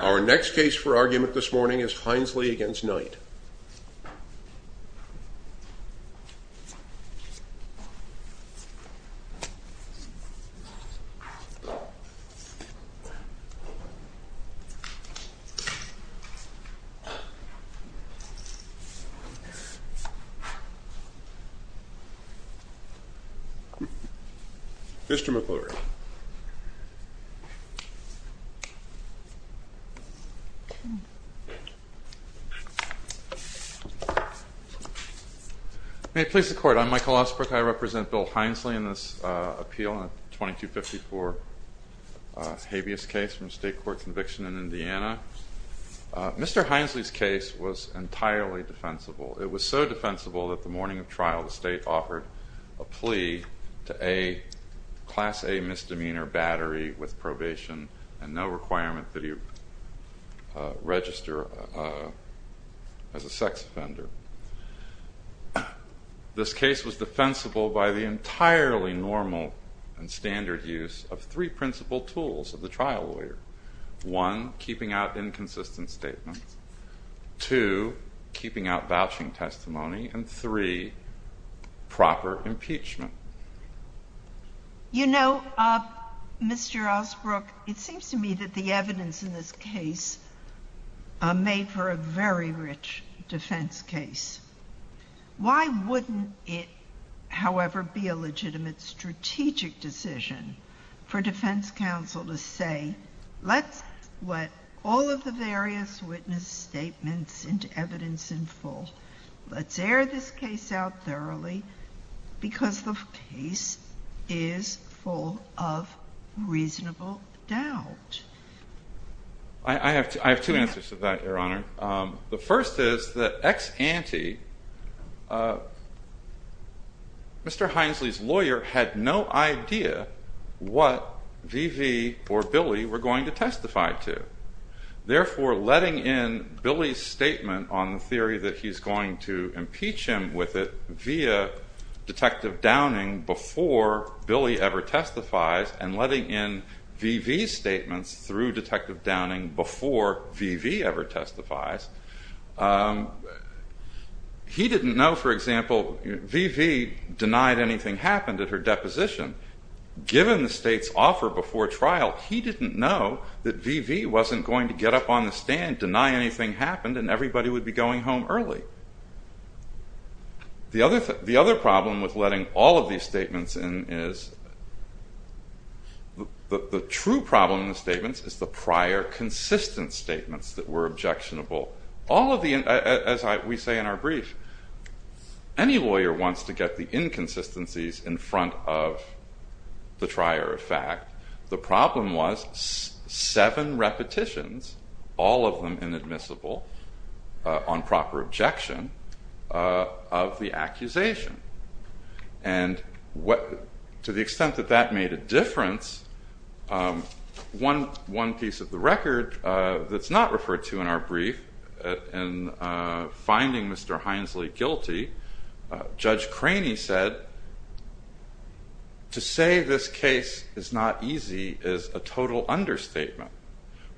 Our next case for argument this morning is Hinesley v. Knight. Mr. McClure May it please the Court, I'm Michael Osbrook. I represent Bill Hinesley in this appeal, a 2254 habeas case from a state court conviction in Indiana. Mr. Hinesley's case was entirely defensible. It was so defensible that the morning of trial the state offered a plea to a Class A misdemeanor battery with probation and no requirement that he register as a sex offender. This case was defensible by the entirely normal and standard use of three principal tools of the trial lawyer. One, keeping out inconsistent statements. Two, keeping out vouching testimony. And three, proper impeachment. You know, Mr. Osbrook, it seems to me that the evidence in this case made for a very rich defense case. Why wouldn't it, however, be a legitimate strategic decision for defense counsel to say, let's put all of the various witness statements into evidence in full. Let's air this case out thoroughly because the case is full of reasonable doubt. I have two answers to that, Your Honor. The first is that ex-ante, Mr. Hinesley's had no idea what V.V. or Billy were going to testify to. Therefore, letting in Billy's statement on the theory that he's going to impeach him with it via Detective Downing before Billy ever testifies and letting in V.V.'s statements through Detective Downing before V.V. ever testifies, he didn't know, for example, V.V. denied anything happened at her deposition. Given the state's offer before trial, he didn't know that V.V. wasn't going to get up on the stand, deny anything happened, and everybody would be going home early. The other problem with letting all of these statements in is, the true problem in the statements is the prior consistent statements that were objectionable. As we say in our brief, any lawyer wants to get the inconsistencies in front of the trier of fact. The problem was seven repetitions, all of them inadmissible, on proper objection of the accusation. To the extent that that made a difference, one piece of the record that's not referred to in our brief in finding Mr. Hinesley guilty, Judge Craney said, to say this case is not easy is a total understatement.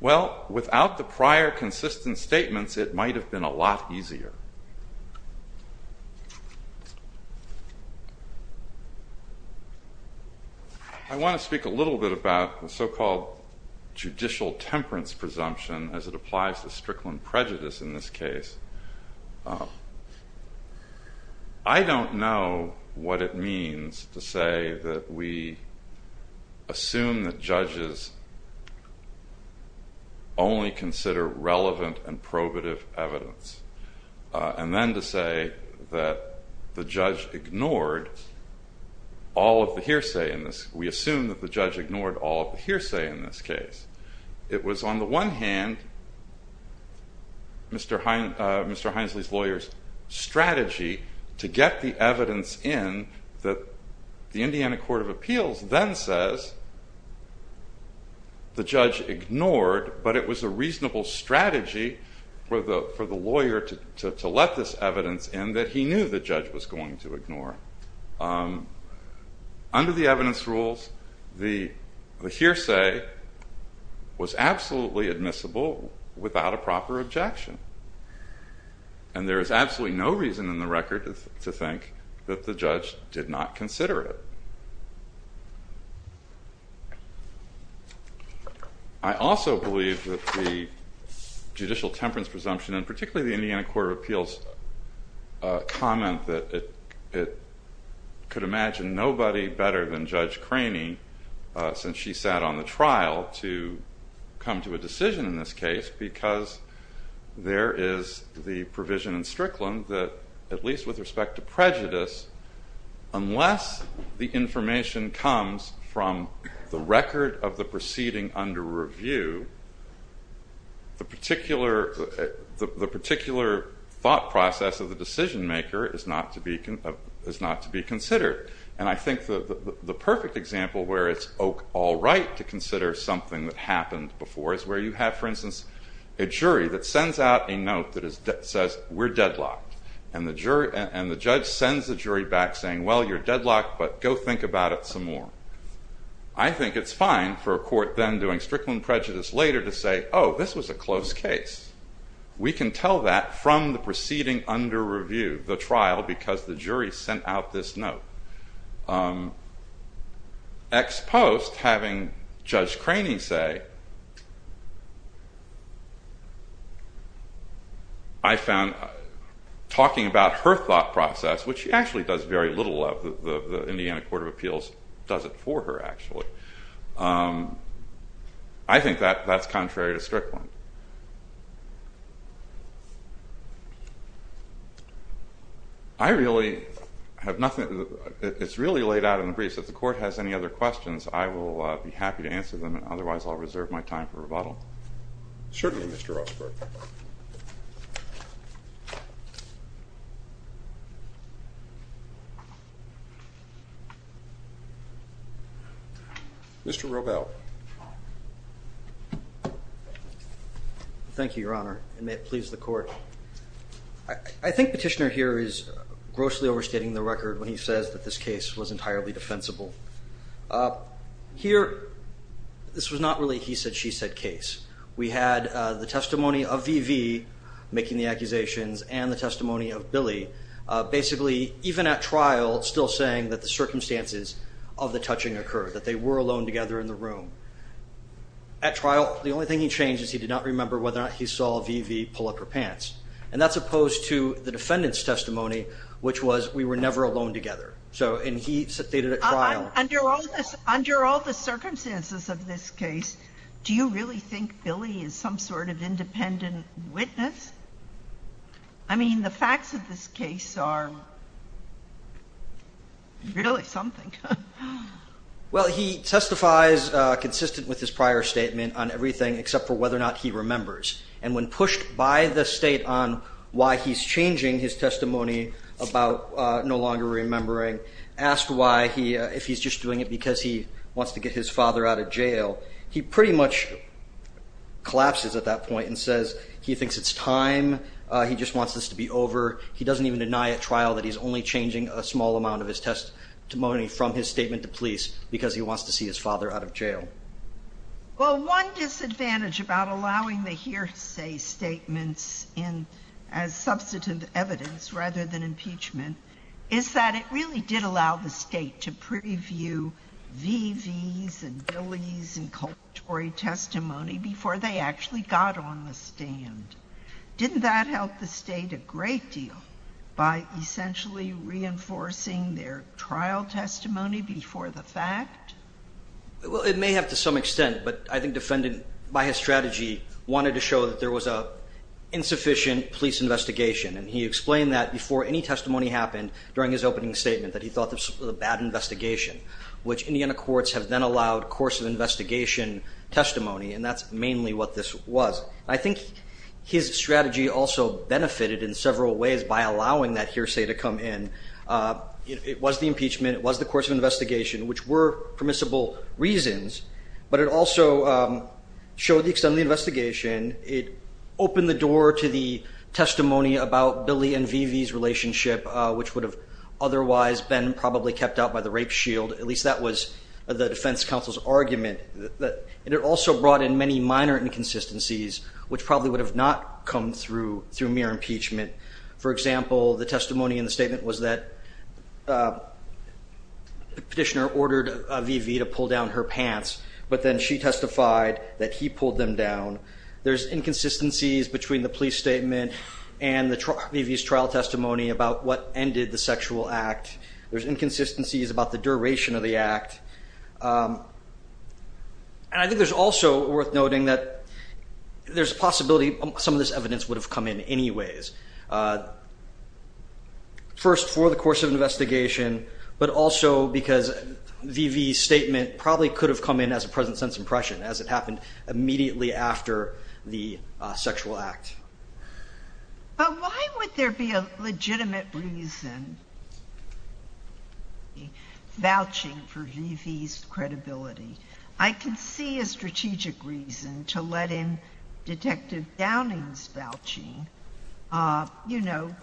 Well, without the prior consistent statements, it might have been a lot easier. I want to speak a little bit about the so-called judicial temperance presumption as it applies to Strickland prejudice in this case. I don't know what it means to say that we assume that and then to say that the judge ignored all of the hearsay in this. We assume that the judge ignored all of the hearsay in this case. It was, on the one hand, Mr. Hinesley's lawyer's strategy to get the evidence in that the Indiana Court of Appeals then says the judge ignored, but it was a reasonable strategy for the lawyer to let this evidence in that he knew the judge was going to ignore. Under the evidence rules, the hearsay was absolutely admissible without a proper objection. And there is absolutely no reason in the record to think that the judge did not consider it. I also believe that the judicial temperance presumption, and particularly the Indiana Court of Appeals comment that it could imagine nobody better than Judge Craney, since she sat on the trial, to come to a decision in this case because there is the provision in Strickland that, at least with respect to prejudice, unless the information comes from the record of the proceeding under review, the particular thought process of the decision maker is not to be considered. And I think the perfect example where it's all right to consider something that happened before is where you have, for instance, a jury that sends out a note that says, we're deadlocked. And the judge sends the jury back saying, well, you're deadlocked, but go think about it some more. I think it's fine for a court then doing Strickland prejudice later to say, oh, this was a close case. We can tell that from the proceeding under review, the trial, because the jury sent out this note. Ex post, having Judge Craney say, I found talking about her thought process, which she actually does very little of, the Indiana Court of Appeals does it for her, actually. I think that's contrary to Strickland. I really have nothing, it's really laid out in the briefs. If the court has any other questions, I will be happy to answer them, and otherwise I'll reserve my time for rebuttal. Certainly, Mr. Rossberg. Mr. Robel. Thank you, Your Honor, and may it please the court. I think Petitioner here is grossly overstating the record when he says that this case was entirely defensible. Here, this was not really a he said, she said case. We had the testimony of V.V. making the accusations and the testimony of Billy. Basically, even at trial, still saying that the circumstances of the touching occurred, that they were alone together in the room. At trial, the only thing he changed is he did not remember whether or not he saw V.V. pull up her pants. And that's opposed to the defendant's So, and he stated at trial. I mean, the facts of this case are really something. Well, he testifies consistent with his prior statement on everything except for whether or not he remembers. And when pushed by the state on why he's changing his testimony about no longer remembering, asked why he if he's just doing it because he wants to get his father out of jail, he pretty much collapses at that point and says he thinks it's time. He just wants this to be over. He doesn't even deny at trial that he's only changing a small amount of his testimony from his statement to police because he wants to see his father out of jail. Well, one disadvantage about allowing the hearsay statements in as substantive evidence rather than impeachment is that it really did allow the state to preview V.V.'s and Billy's and testimony before they actually got on the stand. Didn't that help the state a great deal by essentially reinforcing their trial testimony before the fact? Well, it may have to some extent, but I think defendant, by his strategy, wanted to show that there was a insufficient police investigation. And he explained that before any testimony happened during his opening statement, that he thought this was a bad investigation, which Indiana courts have then allowed course of investigation testimony. And that's mainly what this was. I think his strategy also benefited in several ways by allowing that hearsay to come in. It was the impeachment. It was the course of investigation, which were permissible reasons, but it also showed the extent of the investigation. It opened the door to the testimony about Billy and V.V.'s relationship, which would have otherwise been probably kept out by the rape shield. At least that was the defense counsel's argument. And it also brought in many minor inconsistencies, which probably would have not come through mere impeachment. For example, the testimony in the statement was that the petitioner ordered V.V. to pull down her pants, but then she testified that he pulled them down. There's inconsistencies between the police statement and V.V.'s trial testimony about what ended the sexual act. There's inconsistencies about the duration of the act. And I think there's also worth noting that there's a possibility some of this evidence would have come in anyways, first for the course of investigation, but also because V.V.'s statement probably could have come in as a present sense impression, as it happened immediately after the sexual act. But why would there be a legitimate reason vouching for V.V. and V.V.'s credibility? I can see a strategic reason to let in Detective Downing's vouching, you know,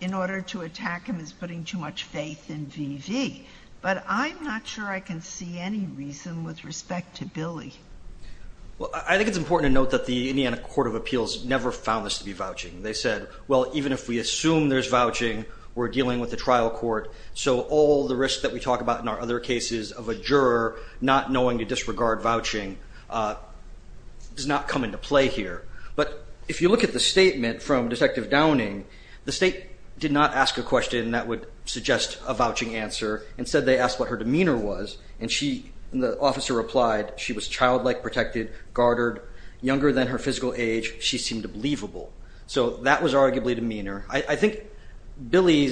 in order to attack him as putting too much faith in V.V. But I'm not sure I can see any reason with respect to Billy. Well, I think it's important to note that the Indiana Court of Appeals never found this to be vouching. They said, well, even if we assume there's vouching, we're dealing with a trial court, so all the risk that we talk about in our other cases of a juror not knowing to disregard vouching does not come into play here. But if you look at the statement from Detective Downing, the state did not ask a question that would suggest a vouching answer. Instead, they asked what her demeanor was, and the officer replied, she was childlike, protected, guarded, younger than her physical age, she seemed believable. So that was arguably demeanor. I think Billy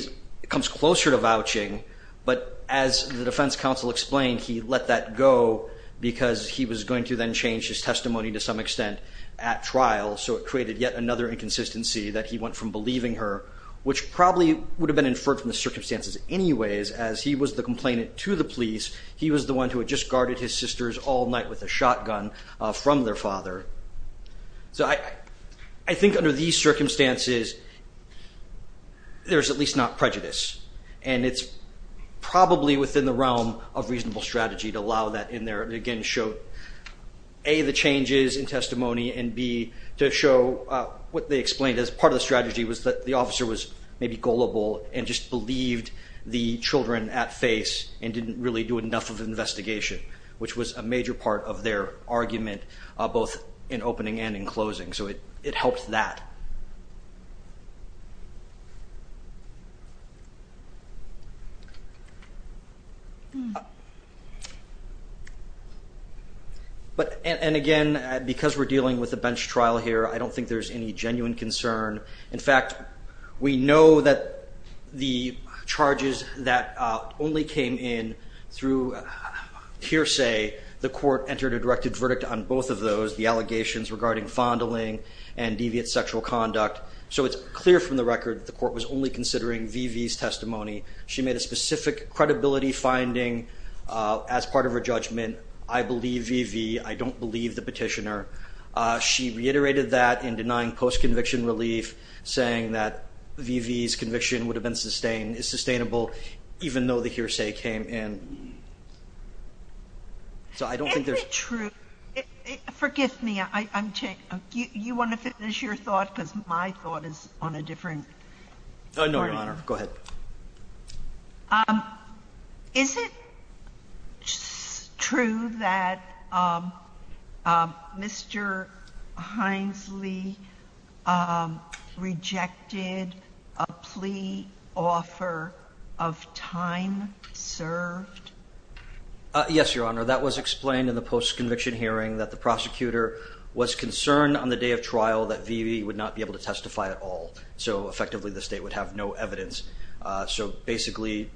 comes closer to vouching, but as the defense counsel explained, he let that go because he was going to then change his testimony to some extent at trial, so it created yet another inconsistency that he went from believing her, which probably would have been inferred from the circumstances anyways, as he was the complainant to the police, he was the one who had just guarded his sisters all night with a shotgun from their father. So I think under these circumstances, there's at least not prejudice, and it's probably within the realm of reasonable strategy to allow that in there, and again, show A, the changes in testimony, and B, to show what they explained as part of the strategy was that the officer was maybe gullible and just believed the children at face and didn't really do enough of an investigation, which was a major part of their argument, both in opening and in closing, so it helped that. And again, because we're dealing with a bench trial here, I don't think there's any genuine concern. In fact, we know that the charges that only came in through hearsay, the court entered a directed verdict on both of those, the allegations regarding fondling and deviant sexual conduct, so it's clear from the record that the court was only considering V.V.'s testimony. She made a specific credibility finding as part of her judgment, I believe V.V., I don't believe the petitioner. She reiterated that in denying post-conviction relief, saying that V.V.'s conviction would have been sustainable, even though the hearsay came in. So I don't think there's... Is it true, forgive me, I'm changing, you want to finish your thought because my thought is on a different... No, Your Honor, go ahead. Is it true that Mr. Hinesley rejected a plea offer of time served? Yes, Your Honor, that was explained in the post-conviction hearing that the prosecutor was concerned on the day of trial that V.V. would not be able to testify at all, so effectively the state would have no evidence. So basically,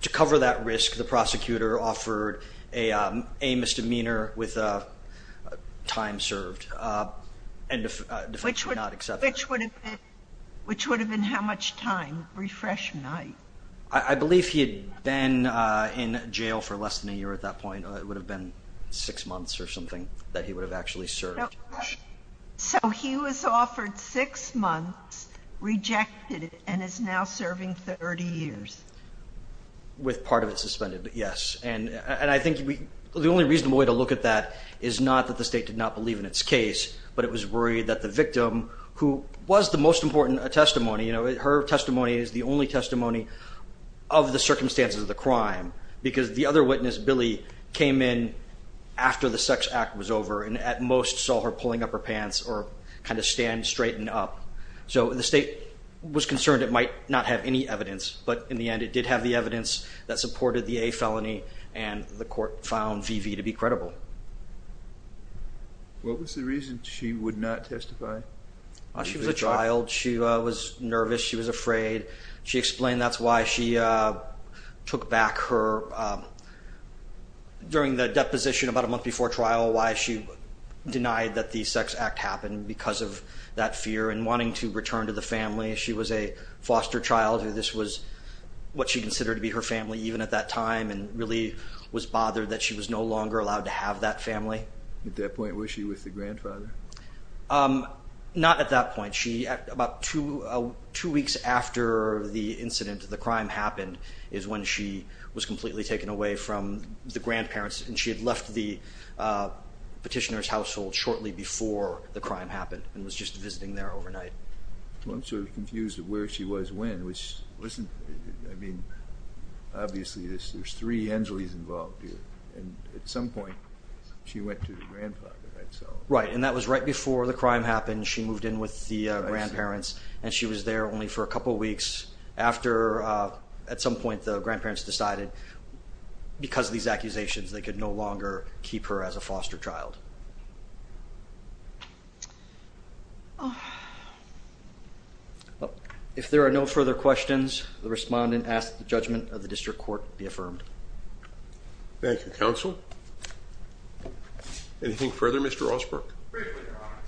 to cover that risk, the prosecutor offered a misdemeanor with time served, and the defense would not accept it. Which would have been how much time? Refresh me. I believe he had been in jail for less than a year at that point. It would have been six months or something that he would have actually served. So he was offered six months, rejected it, and is now serving 30 years. With part of it suspended, yes. And I think the only reasonable way to look at that is not that the state did not believe in its case, but it was worried that the victim, who was the most important testimony, her testimony is the only testimony of the circumstances of the crime, because the other witness, Billy, came in after the sex act was over and at most saw her pulling up her pants or kind of stand straightened up. So the state was concerned it might not have any evidence, but in the end, it did have the evidence that supported the A felony, and the court found V.V. to be credible. What was the reason she would not testify? She was a child. She was nervous. She was afraid. She explained that's why she took back her during the deposition about a month before trial, why she denied that the sex act happened because of that fear and wanting to return to the family. She was a foster child. This was what she considered to be her family, even at that time, and really was bothered that she was no longer allowed to have that family. At that point, was she with the grandfather? Not at that point. About two weeks after the incident, the crime happened, is when she was completely taken away from the grandparents, and she had left the petitioner's household shortly before the crime happened and was just visiting there overnight. I'm sort of confused at where she was when. Obviously, there's three Angeles involved here, and at some point, she went to the grandfather. Right, and that was right before the crime happened. She moved in with the grandparents, and she was there only for a couple of weeks. At some point, the grandparents decided because of these accusations, they could no longer keep her as a foster child. If there are no further questions, the respondent asks that the judgment of the district court be affirmed. Thank you, Counsel. Anything further, Mr. Osberg? Briefly, Your Honor.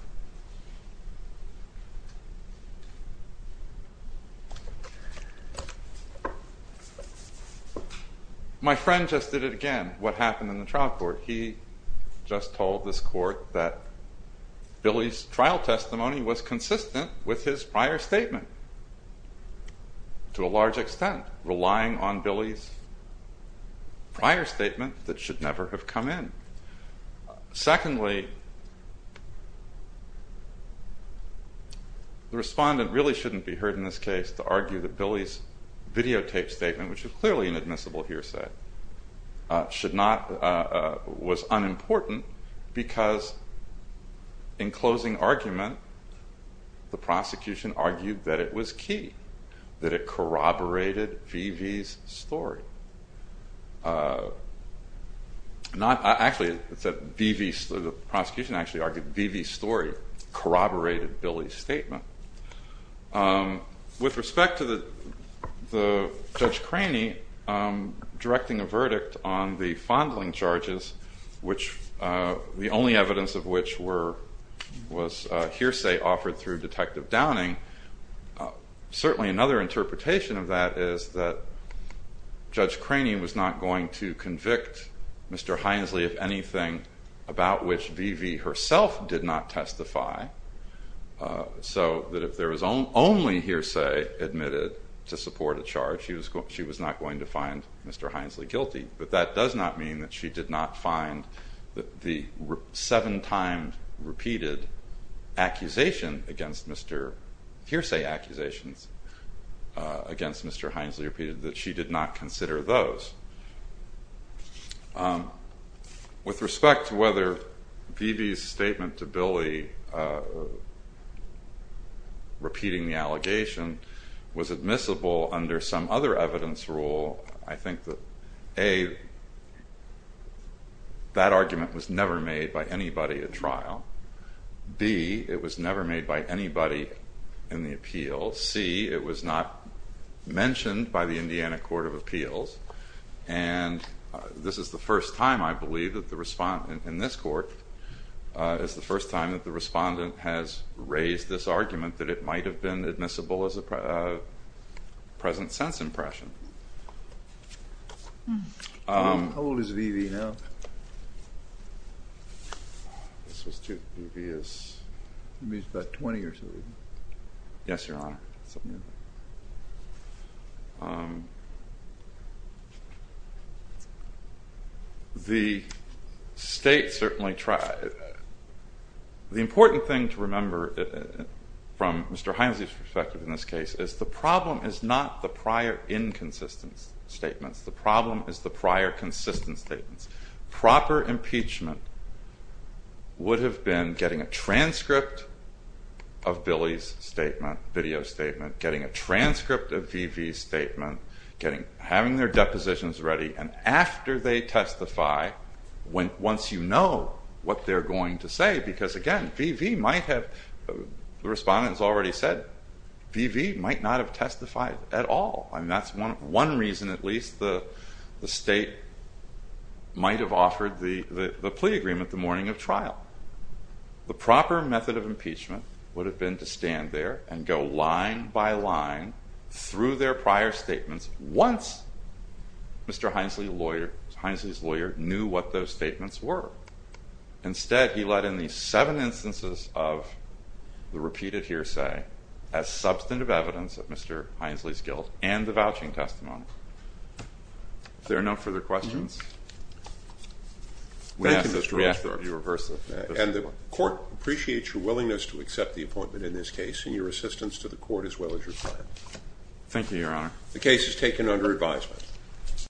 My friend just did it again, what happened in the trial court. He just told this court that Billy's trial testimony was consistent with his prior statement to a large extent, relying on Billy's prior statement that should never have come in. Secondly, the respondent really shouldn't be heard in this case to argue that Billy's videotaped statement, which is clearly an admissible hearsay, was unimportant because in closing argument, the prosecution argued that it was key, that it corroborated V.V.'s story. The prosecution actually argued that V.V.'s story corroborated Billy's statement. With respect to Judge Craney directing a verdict on the fondling charges, the only evidence of which was hearsay offered through Detective Downing, certainly another interpretation of that is that Judge Craney was not going to convict Mr. Hinesley of anything about which V.V. herself did not testify, so that if there was only hearsay admitted to support a charge, she was not going to find Mr. Hinesley guilty. But that does not mean that she did not find the seven times repeated hearsay accusations against Mr. Hinesley repeated, that she did not consider those. With respect to whether V.V.'s statement to Billy repeating the allegation was admissible under some other evidence rule, I think that A, that argument was never made by anybody at trial. B, it was never made by anybody in the appeals. C, it was not mentioned by the Indiana Court of Appeals. And this is the first time, I believe, that the respondent in this court has raised this argument that it might have been admissible as a present sense impression. How old is V.V. now? This was two. V.V. is about 20 or so years old. Yes, Your Honor. The state certainly tried. The important thing to remember from Mr. Hinesley's perspective in this case is the problem is not the prior inconsistent statements. The problem is the prior consistent statements. Proper impeachment would have been getting a transcript of Billy's statement, video statement, getting a transcript of V.V.'s statement, having their depositions ready, and after they testify, once you know what they're going to say, because again, V.V. might have, the respondent has already said, V.V. might not have testified at all. That's one reason at least the state might have offered the plea agreement the morning of trial. The proper method of impeachment would have been to stand there and go line by line through their prior statements once Mr. Hinesley's lawyer knew what those statements were. Instead, he let in these seven instances of the repeated hearsay as substantive evidence of Mr. Hinesley's guilt and the vouching testimony. If there are no further questions. And the court appreciates your willingness to accept the appointment in this case and your assistance to the court as well as your client. Thank you, Your Honor.